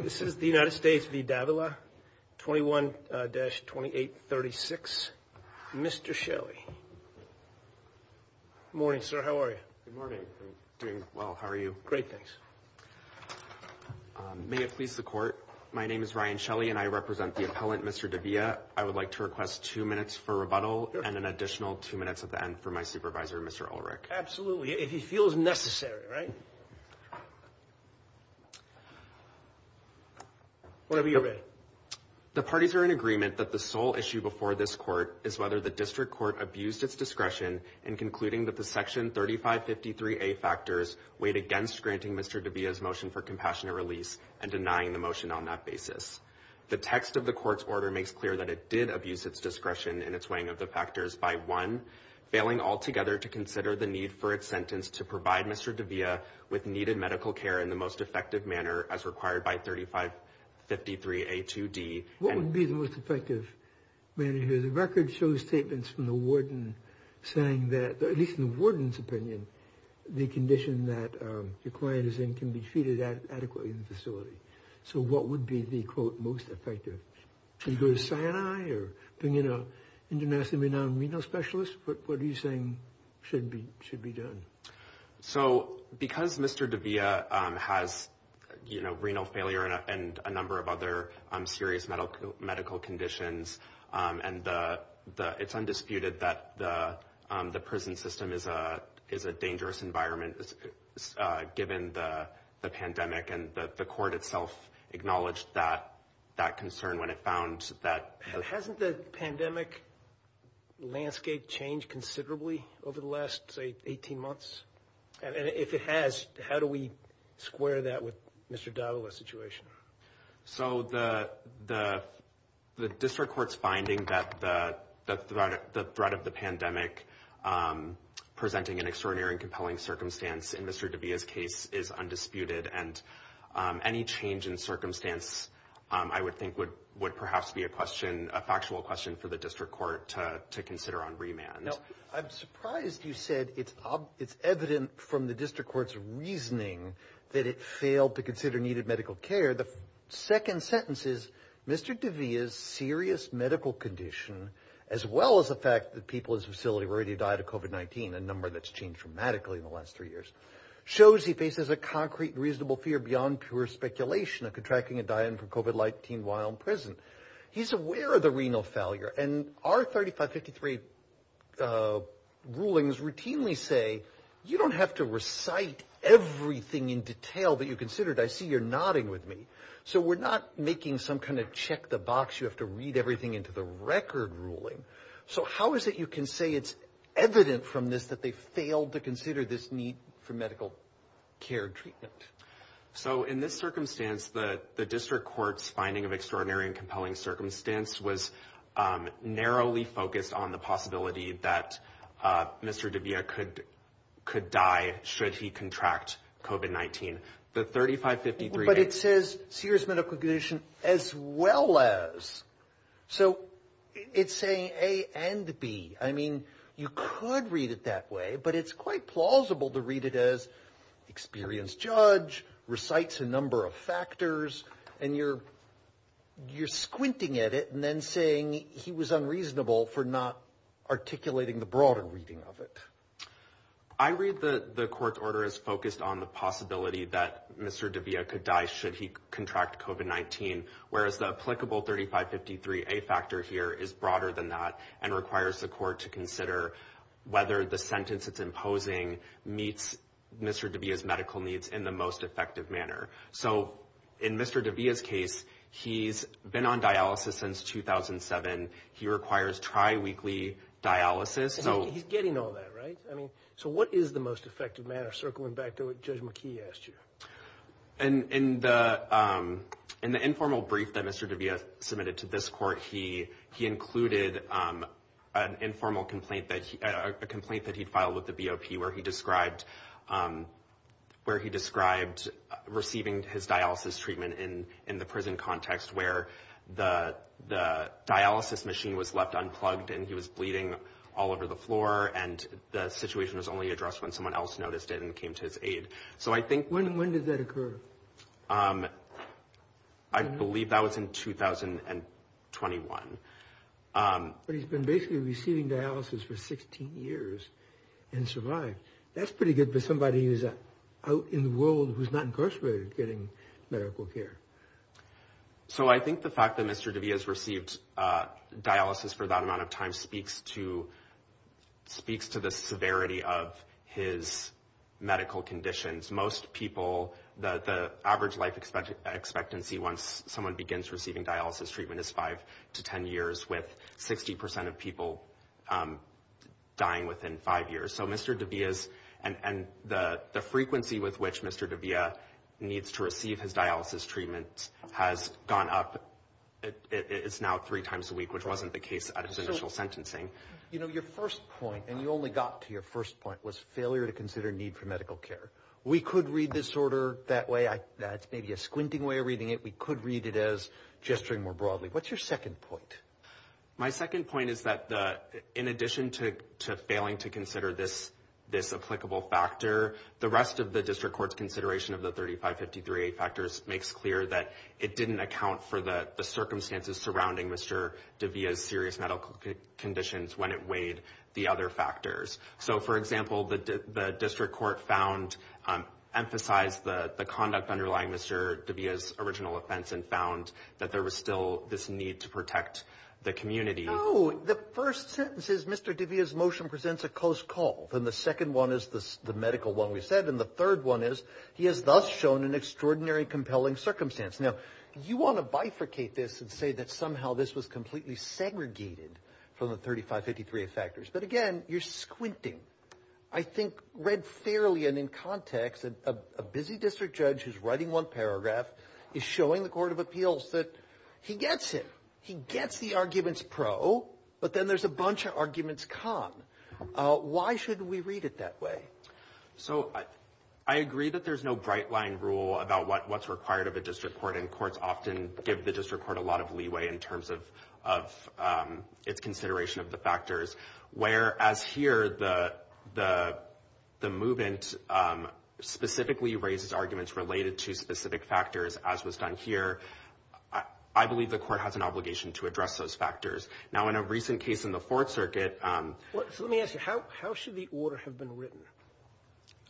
This is the United States v. Davila, 21-2836. Mr. Shelley. Morning, sir. How are you? Good morning. I'm doing well. How are you? Great, thanks. May it please the Court, my name is Ryan Shelley and I represent the appellant, Mr. De Villa. I would like to request two minutes for rebuttal and an additional two minutes at the end for my supervisor, Mr. Ulrich. Absolutely. If he feels necessary, right? Whatever you're ready. The parties are in agreement that the sole issue before this Court is whether the District Court abused its discretion in concluding that the Section 3553A factors weighed against granting Mr. De Villa's motion for compassionate release and denying the motion on that basis. The text of the Court's order makes clear that it did abuse its discretion in its weighing of the factors by one, failing altogether to consider the need for its sentence to provide Mr. De Villa with needed medical care in the most effective manner as required by 3553A2D. What would be the most effective manner here? The record shows statements from the warden saying that, at least in the warden's opinion, the condition that your client is in can be treated adequately in the facility. So what would be the, quote, most effective? Can you go to Sinai or bring in an internationally renowned renal specialist? What are you saying should be done? So because Mr. De Villa has, you know, renal failure and a number of other serious medical conditions and it's undisputed that the prison system is a dangerous environment given the pandemic and the Court itself acknowledged that concern when it found that... Has the pandemic landscape changed considerably over the last, say, 18 months? And if it has, how do we square that with Mr. De Villa's situation? So the District Court's finding that the threat of the pandemic presenting an extraordinary and compelling circumstance in Mr. De Villa's case is undisputed and any change in circumstance, I would think, would perhaps be a question, a factual question for the District Court to consider on remand. Now, I'm surprised you said it's evident from the District Court's reasoning that it failed to consider needed medical care. The second sentence is, Mr. De Villa's serious medical condition, as well as the fact that people in his facility have already died of COVID-19, a number that's changed dramatically in the last three years, shows he faces a concrete and reasonable fear beyond pure speculation of contracting and dying from COVID-19 while in prison. He's aware of the renal failure and our 3553 rulings routinely say, you don't have to recite everything in detail that you considered. I see you're nodding with me. So we're not making some kind of check the box, you have to read everything into the record ruling. So how is it you can say it's evident from this that they failed to consider this need for medical care treatment? So in this circumstance, the District Court's finding of extraordinary and compelling circumstance was narrowly focused on the possibility that Mr. De Villa could die should he contract COVID-19. The 3553. But it says serious medical condition as well as. So it's saying A and B. I mean, you could read it that way, but it's quite plausible to read it as experienced judge recites a number of factors and you're squinting at it and then saying he was unreasonable for not articulating the broader reading of it. I read the court's order as focused on the possibility that Mr. De Villa could die should he contract COVID-19. Whereas the applicable 3553A factor here is broader than that and requires the court to consider whether the sentence it's imposing meets Mr. De Villa's medical needs in the most effective manner. So in Mr. De Villa's case, he's been on dialysis since 2007. He requires triweekly dialysis. He's getting all that, right? So what is the most effective manner, circling back to what Judge McKee asked you? In the informal brief that Mr. De Villa submitted to this court, he included an informal complaint that he'd filed with the BOP where he described receiving his dialysis treatment in the prison context where the dialysis machine was left unplugged and he was bleeding all over the floor and the situation was only addressed when someone else noticed it and came to his aid. So I think... When did that occur? I believe that was in 2021. But he's been basically receiving dialysis for 16 years and survived. That's pretty good for somebody who's out in the world who's not incarcerated getting medical care. So I think the fact that Mr. De Villa has received dialysis for that amount of time speaks to the severity of his medical conditions. Most people, the average life expectancy once someone begins receiving dialysis treatment is 5 to 10 years, with 60% of people dying within 5 years. So Mr. De Villa's... And the frequency with which Mr. De Villa needs to receive his dialysis treatment has gone up. It's now three times a week, which wasn't the case at his initial sentencing. You know, your first point, and you only got to your first point, was failure to consider need for medical care. We could read this order that way. That's maybe a squinting way of reading it. We could read it as gesturing more broadly. What's your second point? My second point is that in addition to failing to consider this applicable factor, the rest of the district court's consideration of the 3553A factors makes clear that it didn't account for the circumstances surrounding Mr. De Villa's serious medical conditions when it weighed the other factors. So, for example, the district court found, emphasized the conduct underlying Mr. De Villa's original offense and found that there was still this need to protect the community. No, the first sentence is Mr. De Villa's motion presents a close call, and the second one is the medical one we said, and the third one is he has thus shown an extraordinary compelling circumstance. Now, you want to bifurcate this and say that somehow this was completely segregated from the 3553A factors, but, again, you're squinting. I think read fairly and in context, a busy district judge who's writing one paragraph is showing the Court of Appeals that he gets it. He gets the arguments pro, but then there's a bunch of arguments con. Why should we read it that way? So I agree that there's no bright-line rule about what's required of a district court, and courts often give the district court a lot of leeway in terms of its consideration of the factors, whereas here the movement specifically raises arguments related to specific factors, as was done here. I believe the court has an obligation to address those factors. Now, in a recent case in the Fourth Circuit — So let me ask you, how should the order have been written?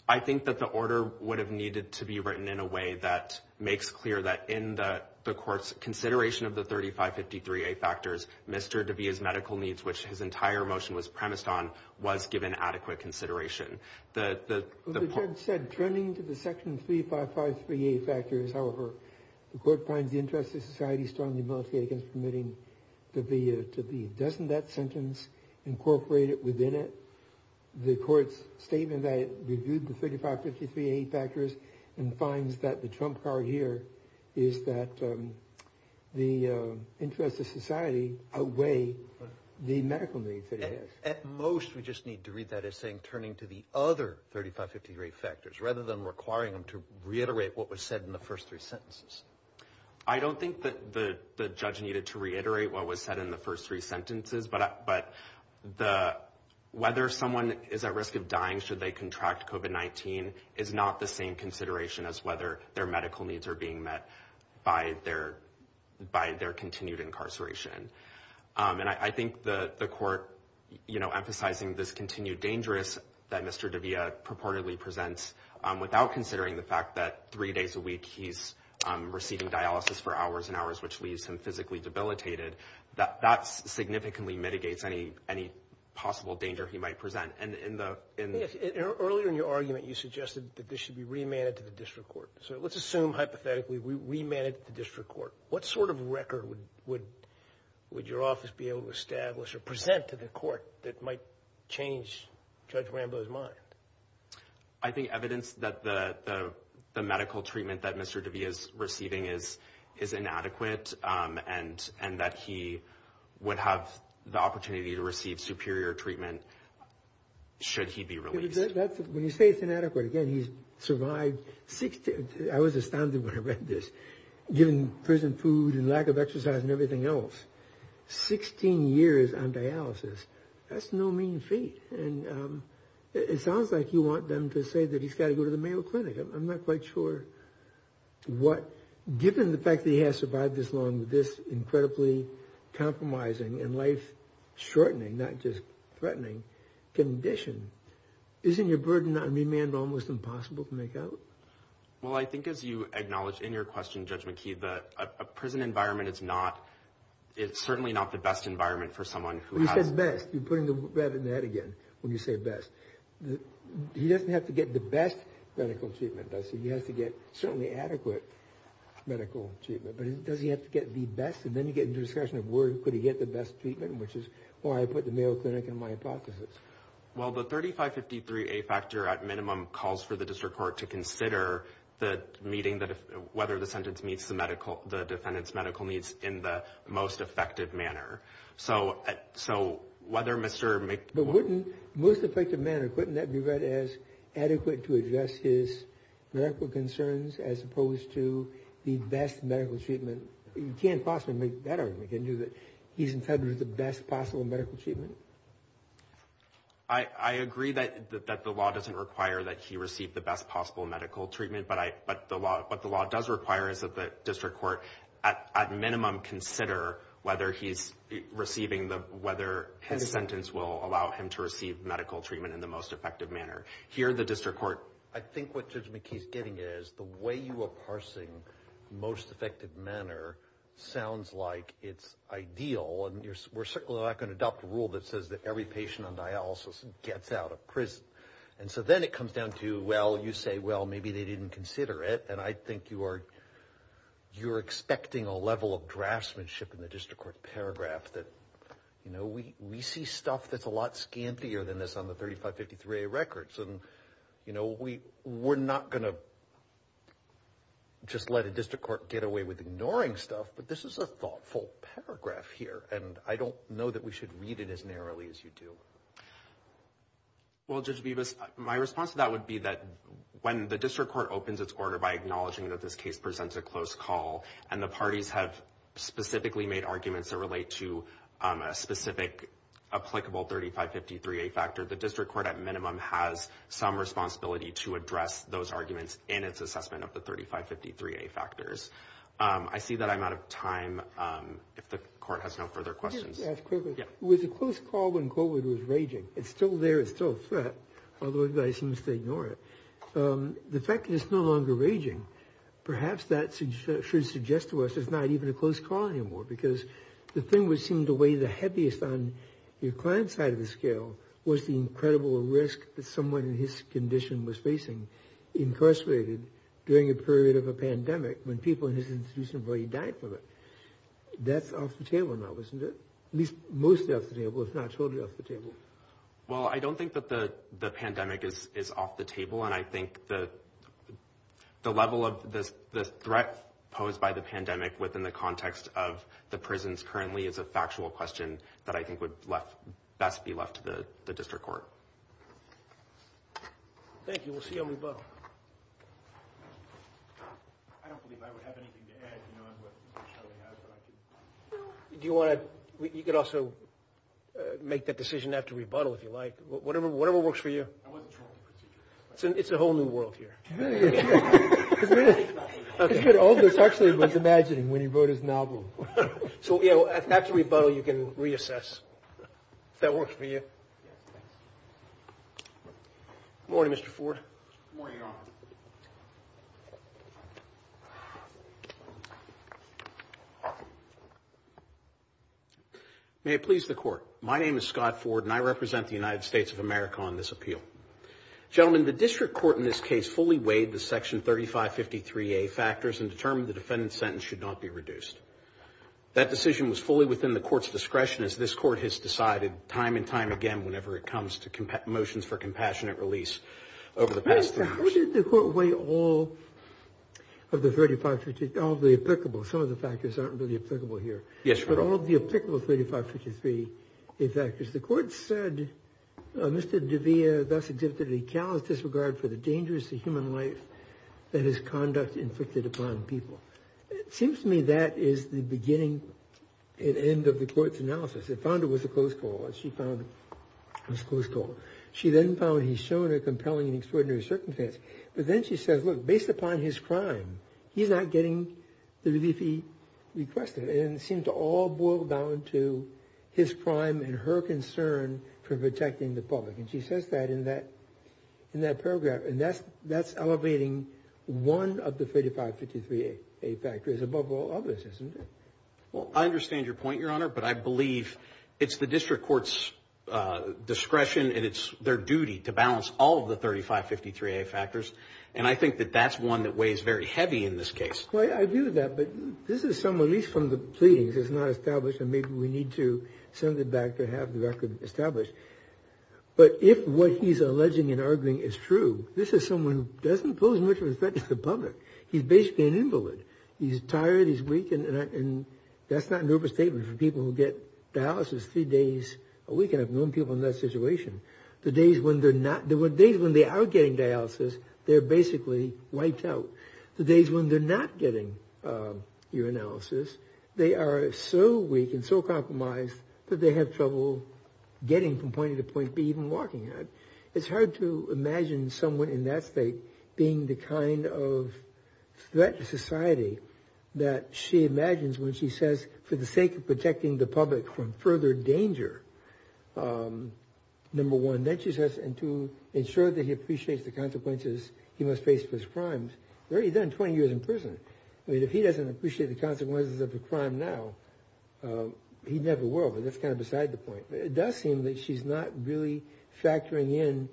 I think that the order would have needed to be written in a way that makes clear that in the court's consideration of the 3553A factors, Mr. DeVita's medical needs, which his entire motion was premised on, was given adequate consideration. The judge said, turning to the section 3553A factors, however, the court finds the interest of society strongly militated against permitting DeVita to be. Doesn't that sentence incorporate within it the court's statement that it reviewed the 3553A factors and finds that the trump card here is that the interest of society outweigh the medical needs that it has? At most, we just need to read that as saying, turning to the other 3553A factors, rather than requiring them to reiterate what was said in the first three sentences. I don't think that the judge needed to reiterate what was said in the first three sentences, but whether someone is at risk of dying should they contract COVID-19 is not the same consideration as whether their medical needs are being met by their continued incarceration. And I think the court emphasizing this continued dangerous that Mr. DeVita purportedly presents without considering the fact that three days a week he's receiving dialysis for hours and hours, which leaves him physically debilitated, that significantly mitigates any possible danger he might present. Earlier in your argument, you suggested that this should be remanded to the district court. So let's assume, hypothetically, we remand it to the district court. What sort of record would your office be able to establish or present to the court that might change Judge Rambo's mind? I think evidence that the medical treatment that Mr. DeVita is receiving is inadequate and that he would have the opportunity to receive superior treatment should he be released. When you say it's inadequate, again, he's survived, I was astounded when I read this, given prison food and lack of exercise and everything else, 16 years on dialysis, that's no mean feat. And it sounds like you want them to say that he's got to go to the Mayo Clinic. I'm not quite sure what, given the fact that he has survived this long, this incredibly compromising and life-shortening, not just threatening, condition, isn't your burden on remand almost impossible to make out? Well, I think as you acknowledge in your question, Judge McKee, that a prison environment is not, it's certainly not the best environment for someone who has... When you say best, he doesn't have to get the best medical treatment, does he? He has to get certainly adequate medical treatment. But does he have to get the best? And then you get into the discussion of where could he get the best treatment, which is why I put the Mayo Clinic in my hypothesis. Well, the 3553A factor, at minimum, calls for the district court to consider whether the sentence meets the defendant's medical needs in the most effective manner. So whether Mr. Mc... But wouldn't most effective manner, couldn't that be read as adequate to address his medical concerns as opposed to the best medical treatment? You can't possibly make that argument, can you, that he's entitled to the best possible medical treatment? I agree that the law doesn't require that he receive the best possible medical treatment, but what the law does require is that the district court, at minimum, consider whether his sentence will allow him to receive medical treatment in the most effective manner. Here, the district court... I think what Judge McKee is getting at is the way you are parsing most effective manner sounds like it's ideal, and we're certainly not going to adopt a rule that says that every patient on dialysis gets out of prison. And so then it comes down to, well, you say, well, maybe they didn't consider it, and I think you're expecting a level of draftsmanship in the district court paragraph that we see stuff that's a lot scantier than this on the 3553A records. We're not going to just let a district court get away with ignoring stuff, but this is a thoughtful paragraph here, and I don't know that we should read it as narrowly as you do. Well, Judge Bibas, my response to that would be that when the district court opens its order by acknowledging that this case presents a close call and the parties have specifically made arguments that relate to a specific applicable 3553A factor, the district court, at minimum, has some responsibility to address those arguments in its assessment of the 3553A factors. I see that I'm out of time if the court has no further questions. I just want to ask quickly. It was a close call when COVID was raging. It's still there. It's still a threat, although the guy seems to ignore it. The fact that it's no longer raging, perhaps that should suggest to us it's not even a close call anymore because the thing which seemed to weigh the heaviest on your client's side of the scale was the incredible risk that someone in his condition was facing, incarcerated, during a period of a pandemic when people in his institution were already dying from it. That's off the table now, isn't it? At least, mostly off the table, if not totally off the table. Well, I don't think that the pandemic is off the table, and I think the level of the threat posed by the pandemic within the context of the prisons currently is a factual question that I think would best be left to the district court. Thank you. We'll see how we go. I don't believe I would have anything to add, you know, on what Mr. Shelley has, but I do. Do you want to – you could also make that decision after rebuttal, if you like. Whatever works for you. I wasn't sure what the procedure was. It's a whole new world here. It's good. All of this, actually, was imagining when he wrote his novel. So, you know, after rebuttal, you can reassess if that works for you. Yes, thanks. Good morning, Mr. Ford. Good morning, Your Honor. May it please the Court. My name is Scott Ford, and I represent the United States of America on this appeal. Gentlemen, the district court in this case fully weighed the Section 3553A factors and determined the defendant's sentence should not be reduced. That decision was fully within the court's discretion, as this court has decided time and time again whenever it comes to motions for compassionate release over the past three years. How did the court weigh all of the 35 – all of the applicable – some of the factors aren't really applicable here. Yes, Your Honor. But all of the applicable 3553A factors. The court said, Mr. De Villa thus exhibited a callous disregard for the dangers to human life and its conduct inflicted upon people. It seems to me that is the beginning and end of the court's analysis. It found it was a close call. She found it was a close call. She then found he's shown a compelling and extraordinary circumstance. But then she says, look, based upon his crime, he's not getting the relief he requested. And it seemed to all boil down to his crime and her concern for protecting the public. And she says that in that paragraph. And that's elevating one of the 3553A factors above all others, isn't it? Well, I understand your point, Your Honor. But I believe it's the district court's discretion and it's their duty to balance all of the 3553A factors. And I think that that's one that weighs very heavy in this case. I agree with that. But this is some release from the pleadings. It's not established and maybe we need to send it back to have the record established. But if what he's alleging and arguing is true, this is someone who doesn't pose much of a threat to the public. He's basically an invalid. He's tired. He's weak. And that's not an overstatement for people who get dialysis three days a week. And I've known people in that situation. The days when they are getting dialysis, they're basically wiped out. The days when they're not getting urinalysis, they are so weak and so compromised that they have trouble getting from point A to point B, even walking. It's hard to imagine someone in that state being the kind of threat to society that she imagines when she says, for the sake of protecting the public from further danger, number one. Then she says, and two, ensure that he appreciates the consequences he must face for his crimes. He's already done 20 years in prison. I mean, if he doesn't appreciate the consequences of a crime now, he never will. But that's kind of beside the point. It does seem that she's not really factoring in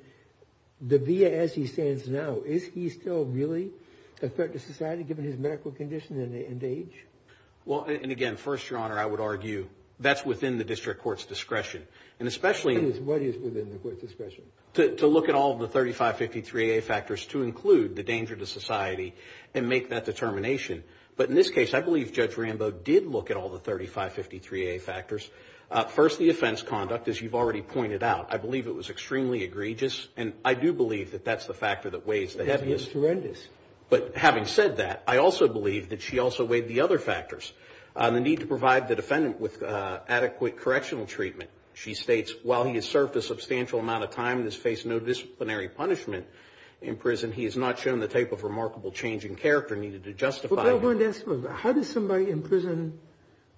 the VA as he stands now. Is he still really a threat to society, given his medical condition and age? Well, and again, first, Your Honor, I would argue that's within the district court's discretion. And especially— What is within the court's discretion? To look at all the 3553A factors to include the danger to society and make that determination. But in this case, I believe Judge Rambo did look at all the 3553A factors. First, the offense conduct, as you've already pointed out. I believe it was extremely egregious, and I do believe that that's the factor that weighs— That is horrendous. But having said that, I also believe that she also weighed the other factors. The need to provide the defendant with adequate correctional treatment. She states, while he has served a substantial amount of time and has faced no disciplinary punishment in prison, he has not shown the type of remarkable change in character needed to justify— I wanted to ask about that. How does somebody in prison—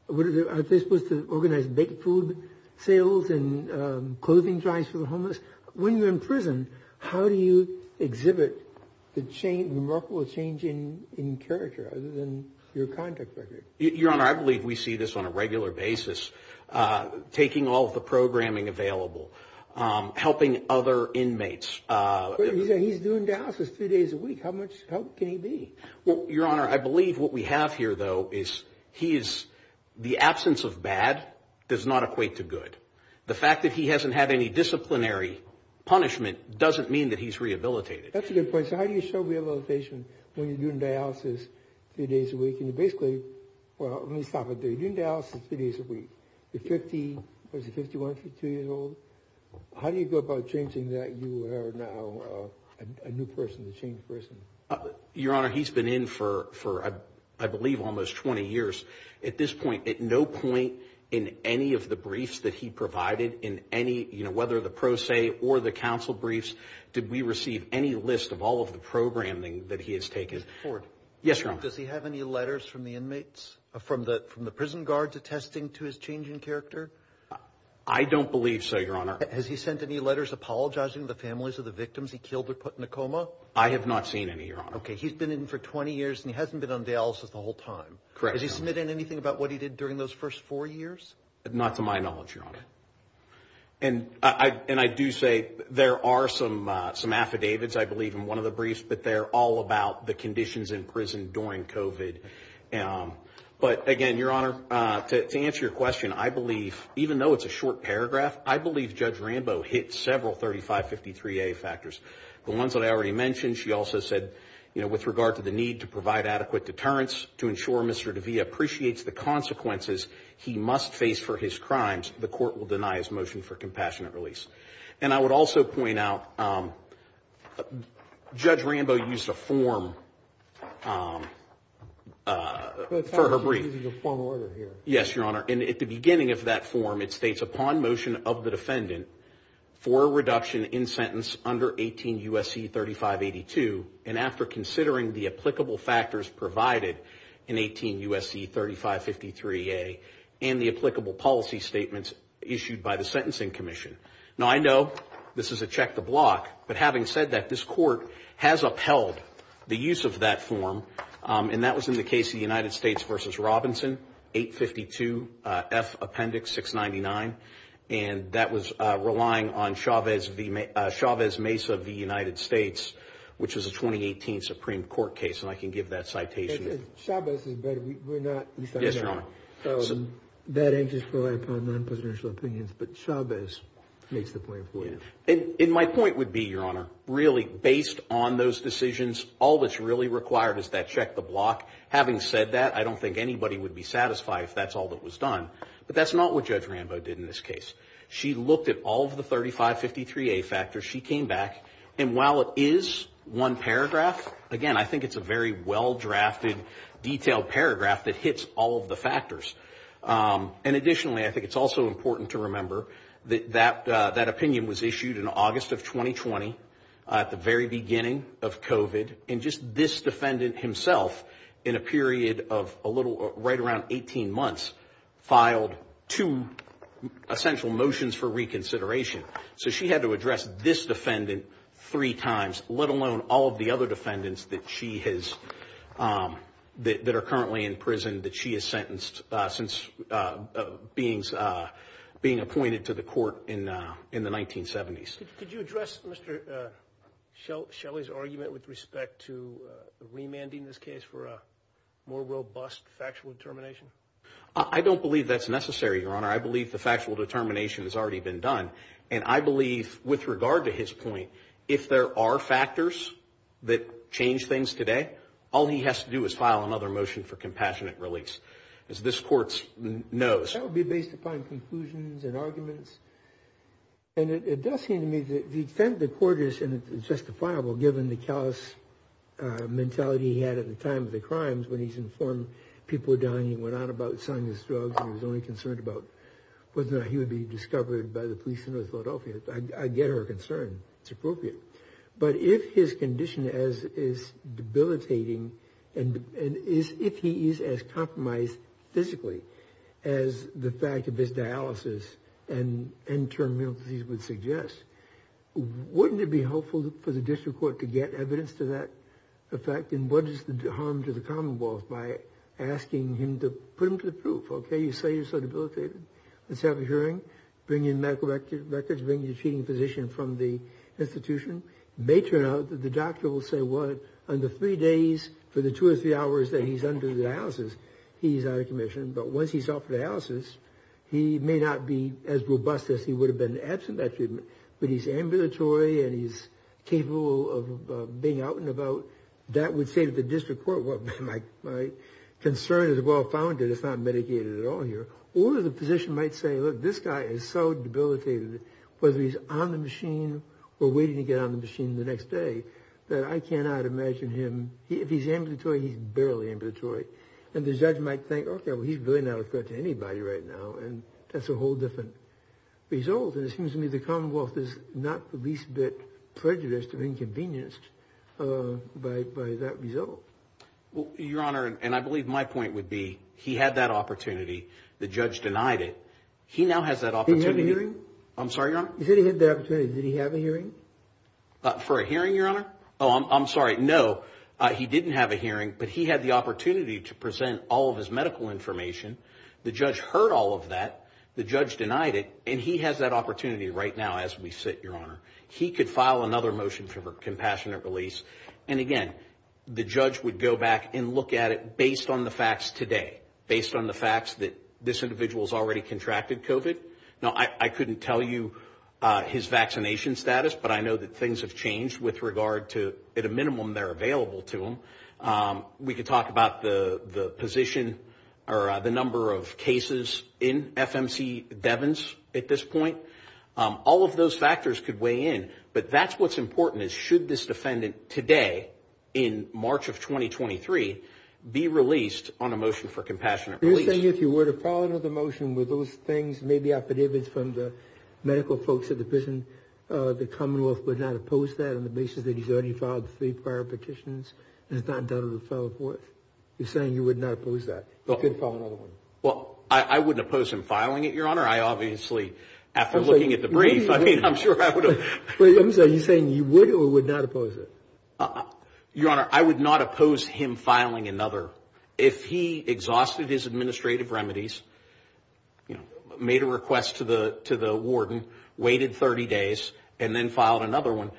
Are they supposed to organize baked food sales and clothing drives for the homeless? When you're in prison, how do you exhibit the remarkable change in character other than your contact record? Your Honor, I believe we see this on a regular basis. Taking all of the programming available. Helping other inmates. He's doing dialysis three days a week. How much help can he be? Well, Your Honor, I believe what we have here, though, is he is— The absence of bad does not equate to good. The fact that he hasn't had any disciplinary punishment doesn't mean that he's rehabilitated. That's a good point. So how do you show rehabilitation when you're doing dialysis three days a week? And you basically—well, let me stop it there. You're doing dialysis three days a week. You're 51, 52 years old. How do you go about changing that? You are now a new person, a changed person. Your Honor, he's been in for, I believe, almost 20 years. At this point, at no point in any of the briefs that he provided, whether the pro se or the counsel briefs, did we receive any list of all of the programming that he has taken. Mr. Ford. Yes, Your Honor. Does he have any letters from the inmates, from the prison guards, attesting to his change in character? I don't believe so, Your Honor. Has he sent any letters apologizing to the families of the victims he killed or put in a coma? I have not seen any, Your Honor. Okay. He's been in for 20 years and he hasn't been on dialysis the whole time. Correct, Your Honor. Has he submitted anything about what he did during those first four years? Not to my knowledge, Your Honor. Okay. And I do say there are some affidavits, I believe, in one of the briefs, but they're all about the conditions in prison during COVID. But again, Your Honor, to answer your question, I believe, even though it's a short paragraph, I believe Judge Rambo hit several 3553A factors. The ones that I already mentioned. She also said, you know, with regard to the need to provide adequate deterrence to ensure Mr. DeVia appreciates the consequences he must face for his crimes, the court will deny his motion for compassionate release. And I would also point out Judge Rambo used a form for her brief. But it sounds like he's using a formal order here. Yes, Your Honor. And at the beginning of that form, it states, upon motion of the defendant for a reduction in sentence under 18 U.S.C. 3582, and after considering the applicable factors provided in 18 U.S.C. 3553A and the applicable policy statements issued by the Sentencing Commission. Now, I know this is a check to block, but having said that, this court has upheld the use of that form, and that was in the case of the United States v. Robinson, 852F Appendix 699, and that was relying on Chavez Mesa v. United States, which was a 2018 Supreme Court case, and I can give that citation. Chavez is better. We're not. Yes, Your Honor. So that answers for non-presidential opinions, but Chavez makes the point. And my point would be, Your Honor, really based on those decisions, all that's really required is that check to block. Having said that, I don't think anybody would be satisfied if that's all that was done, but that's not what Judge Rambo did in this case. She looked at all of the 3553A factors. She came back, and while it is one paragraph, again, I think it's a very well-drafted, detailed paragraph that hits all of the factors. And additionally, I think it's also important to remember that that opinion was issued in August of 2020, at the very beginning of COVID, and just this defendant himself, in a period of right around 18 months, filed two essential motions for reconsideration. So she had to address this defendant three times, let alone all of the other defendants that are currently in prison that she has sentenced since being appointed to the court in the 1970s. Could you address Mr. Shelley's argument with respect to remanding this case for a more robust factual determination? I don't believe that's necessary, Your Honor. I believe the factual determination has already been done. And I believe, with regard to his point, if there are factors that change things today, all he has to do is file another motion for compassionate release, as this Court knows. That would be based upon conclusions and arguments. And it does seem to me that the court is justifiable, given the callous mentality he had at the time of the crimes, when he's informed people were dying, he went on about selling his drugs, and he was only concerned about whether or not he would be discovered by the police in North Philadelphia. I get her concern. It's appropriate. But if his condition is debilitating, and if he is as compromised physically as the fact of his dialysis and end-term mental disease would suggest, wouldn't it be helpful for the District Court to get evidence to that effect? And what is the harm to the Commonwealth by asking him to put him to the proof? Okay, you say you're so debilitated. Let's have a hearing, bring in medical records, bring in a treating physician from the institution. It may turn out that the doctor will say, well, under three days, for the two or three hours that he's under dialysis, he's out of commission. But once he's off dialysis, he may not be as robust as he would have been absent that treatment. But he's ambulatory, and he's capable of being out and about. That would say to the District Court, well, my concern is well-founded. It's not medicated at all here. Or the physician might say, look, this guy is so debilitated, whether he's on the machine or waiting to get on the machine the next day, that I cannot imagine him, if he's ambulatory, he's barely ambulatory. And the judge might think, okay, well, he's really not a threat to anybody right now. And that's a whole different result. And it seems to me the Commonwealth is not the least bit prejudiced or inconvenienced by that result. Well, Your Honor, and I believe my point would be he had that opportunity. The judge denied it. He now has that opportunity. Did he have a hearing? I'm sorry, Your Honor? He said he had that opportunity. Did he have a hearing? Oh, I'm sorry. No, he didn't have a hearing. But he had the opportunity to present all of his medical information. The judge heard all of that. The judge denied it. And he has that opportunity right now as we sit, Your Honor. He could file another motion for compassionate release. And, again, the judge would go back and look at it based on the facts today, based on the facts that this individual has already contracted COVID. Now, I couldn't tell you his vaccination status, but I know that things have changed with regard to, at a minimum, they're available to him. We could talk about the position or the number of cases in FMC Devens at this point. All of those factors could weigh in. But that's what's important is should this defendant today, in March of 2023, be released on a motion for compassionate release. You're saying if he were to file another motion with those things, maybe I could hear this from the medical folks at the prison, the commonwealth would not oppose that on the basis that he's already filed three prior petitions and has not done a referral for it. You're saying you would not oppose that. He could file another one. Well, I wouldn't oppose him filing it, Your Honor. I obviously, after looking at the brief, I mean, I'm sure I would have. I'm sorry. Are you saying you would or would not oppose it? Your Honor, I would not oppose him filing another. If he exhausted his administrative remedies, you know, made a request to the warden, waited 30 days, and then filed another one,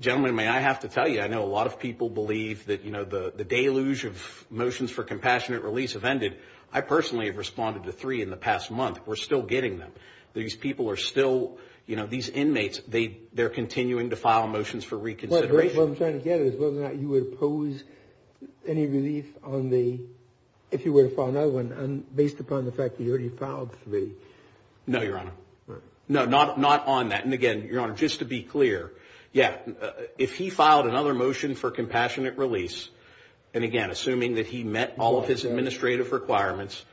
gentlemen, may I have to tell you, I know a lot of people believe that, you know, the deluge of motions for compassionate release have ended. I personally have responded to three in the past month. We're still getting them. These people are still, you know, these inmates, they're continuing to file motions for reconsideration. What I'm trying to get at is whether or not you would oppose any relief on the, if he were to file another one based upon the fact that he already filed three. No, Your Honor. No, not on that. And, again, Your Honor, just to be clear, yeah, if he filed another motion for compassionate release, and, again, assuming that he met all of his administrative requirements,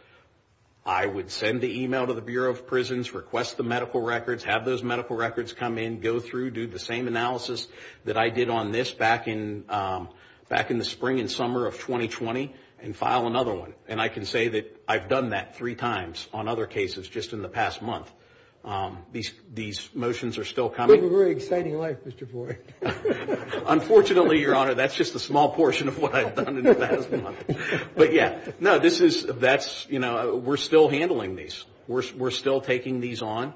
I would send the email to the Bureau of Prisons, request the medical records, have those medical records come in, go through, do the same analysis that I did on this back in the spring and summer of 2020, and file another one. And I can say that I've done that three times on other cases just in the past month. These motions are still coming. You live a very exciting life, Mr. Ford. Unfortunately, Your Honor, that's just a small portion of what I've done in the past month. But, yeah, no, this is, that's, you know, we're still handling these. We're still taking these on.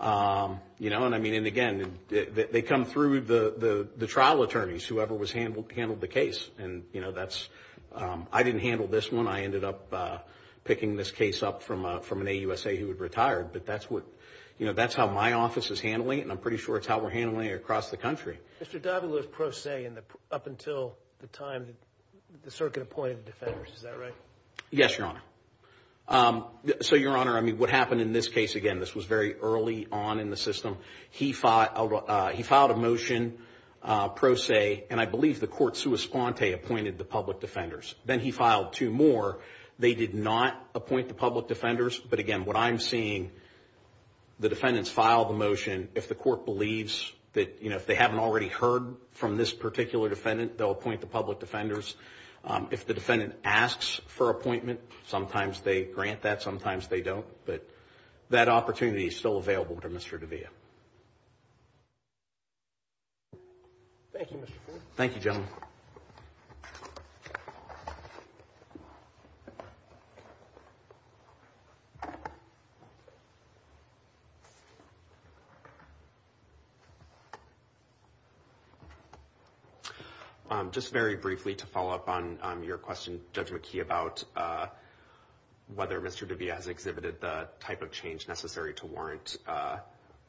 You know, and, I mean, and, again, they come through the trial attorneys, whoever handled the case. And, you know, that's, I didn't handle this one. I ended up picking this case up from an AUSA who had retired. But that's what, you know, that's how my office is handling it, and I'm pretty sure it's how we're handling it across the country. Mr. Davila's pro se up until the time the circuit appointed the defenders. Is that right? Yes, Your Honor. So, Your Honor, I mean, what happened in this case, again, this was very early on in the system. He filed a motion pro se, and I believe the court sua sponte appointed the public defenders. Then he filed two more. They did not appoint the public defenders. But, again, what I'm seeing, the defendants file the motion if the court believes that, you know, if they haven't already heard from this particular defendant, they'll appoint the public defenders. If the defendant asks for appointment, sometimes they grant that, sometimes they don't. But that opportunity is still available to Mr. Davila. Thank you, Mr. Ford. Thank you, gentlemen. Thank you. Just very briefly to follow up on your question, Judge McKee, about whether Mr. Davila has exhibited the type of change necessary to warrant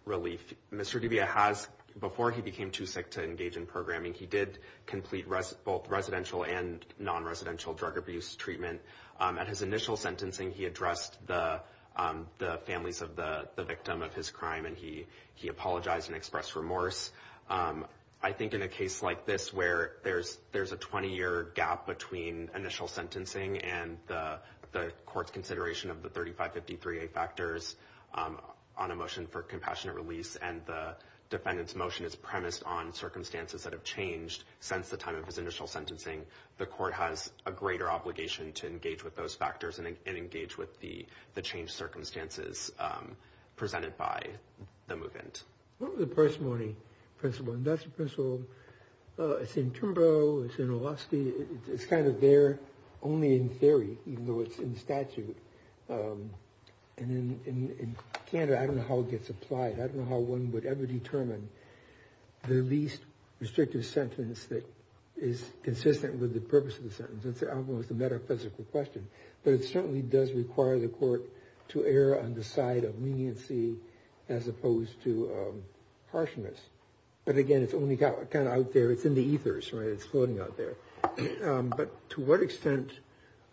relief. Mr. Davila has. Before he became too sick to engage in programming, he did complete both residential and non-residential drug abuse treatment. At his initial sentencing, he addressed the families of the victim of his crime, and he apologized and expressed remorse. I think in a case like this where there's a 20-year gap between initial sentencing and the court's consideration of the 3553A factors on a motion for compassionate release and the defendant's motion is premised on circumstances that have changed since the time of his initial sentencing, the court has a greater obligation to engage with those factors and engage with the changed circumstances presented by the move-in. What was the parsimony principle? And that's a principle that's in Turnbull, it's in Oloski. It's kind of there only in theory, even though it's in statute. And in Canada, I don't know how it gets applied. I don't know how one would ever determine the least restrictive sentence that is consistent with the purpose of the sentence. It's almost a metaphysical question. But it certainly does require the court to err on the side of leniency as opposed to harshness. But, again, it's only kind of out there. It's in the ethers, right? It's floating out there. But to what extent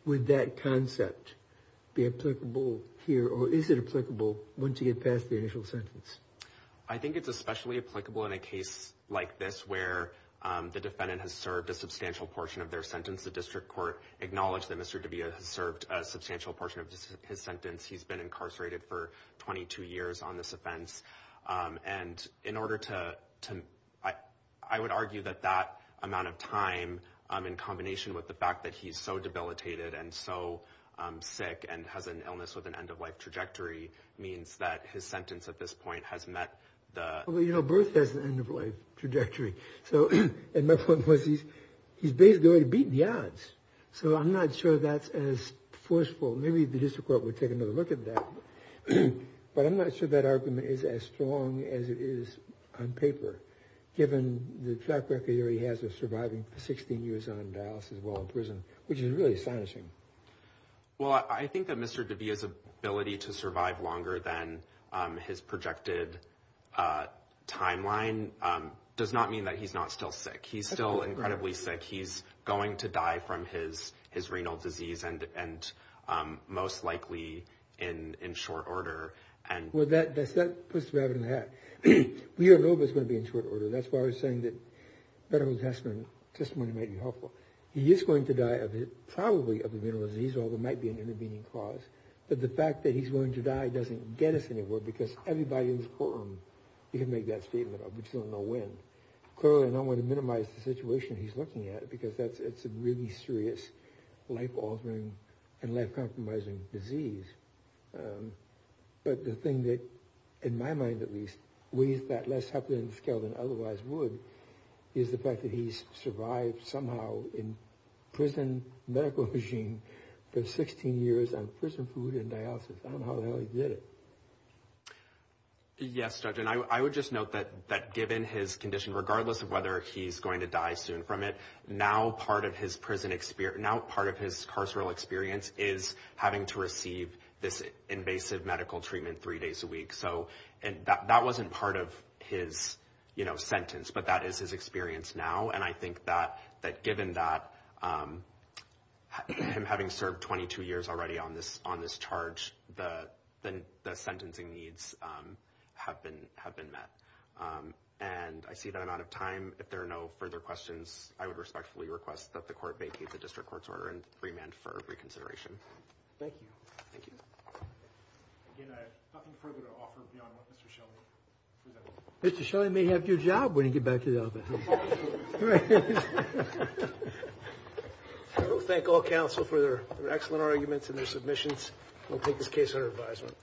would that concept be applicable here? Or is it applicable once you get past the initial sentence? I think it's especially applicable in a case like this where the defendant has served a substantial portion of their sentence. The district court acknowledged that Mr. DiBia has served a substantial portion of his sentence. He's been incarcerated for 22 years on this offense. And in order to—I would argue that that amount of time, in combination with the fact that he's so debilitated and so sick and has an illness with an end-of-life trajectory, means that his sentence at this point has met the— Well, you know, birth has an end-of-life trajectory. And my point was he's basically already beaten the odds. So I'm not sure that's as forceful. Maybe the district court would take another look at that. But I'm not sure that argument is as strong as it is on paper, given the track record he already has of surviving 16 years on dialysis while in prison, which is really astonishing. Well, I think that Mr. DiBia's ability to survive longer than his projected timeline does not mean that he's not still sick. He's still incredibly sick. He's going to die from his renal disease, and most likely in short order. Well, that puts the rabbit in the hat. We all know he's going to be in short order. That's why I was saying that medical testimony might be helpful. He is going to die, probably, of a renal disease, although it might be an intervening cause. But the fact that he's willing to die doesn't get us anywhere, because everybody in this courtroom can make that statement, but we just don't know when. Clearly, I don't want to minimize the situation he's looking at, because it's a really serious life-altering and life-compromising disease. But the thing that, in my mind at least, weighs that less heavily on the scale than it otherwise would is the fact that he's survived somehow in prison, medical regime, for 16 years on prison food and dialysis. I don't know how the hell he did it. Yes, Judge, and I would just note that given his condition, regardless of whether he's going to die soon from it, now part of his carceral experience is having to receive this invasive medical treatment three days a week. That wasn't part of his sentence, but that is his experience now. And I think that given that, him having served 22 years already on this charge, the sentencing needs have been met. And I see that I'm out of time. If there are no further questions, I would respectfully request that the court vacate the district court's order and remand for reconsideration. Thank you. Thank you. Again, I have nothing further to offer beyond what Mr. Shelley presented. Mr. Shelley may have your job when you get back to the office. I will thank all counsel for their excellent arguments and their submissions. We'll take this case under advisement.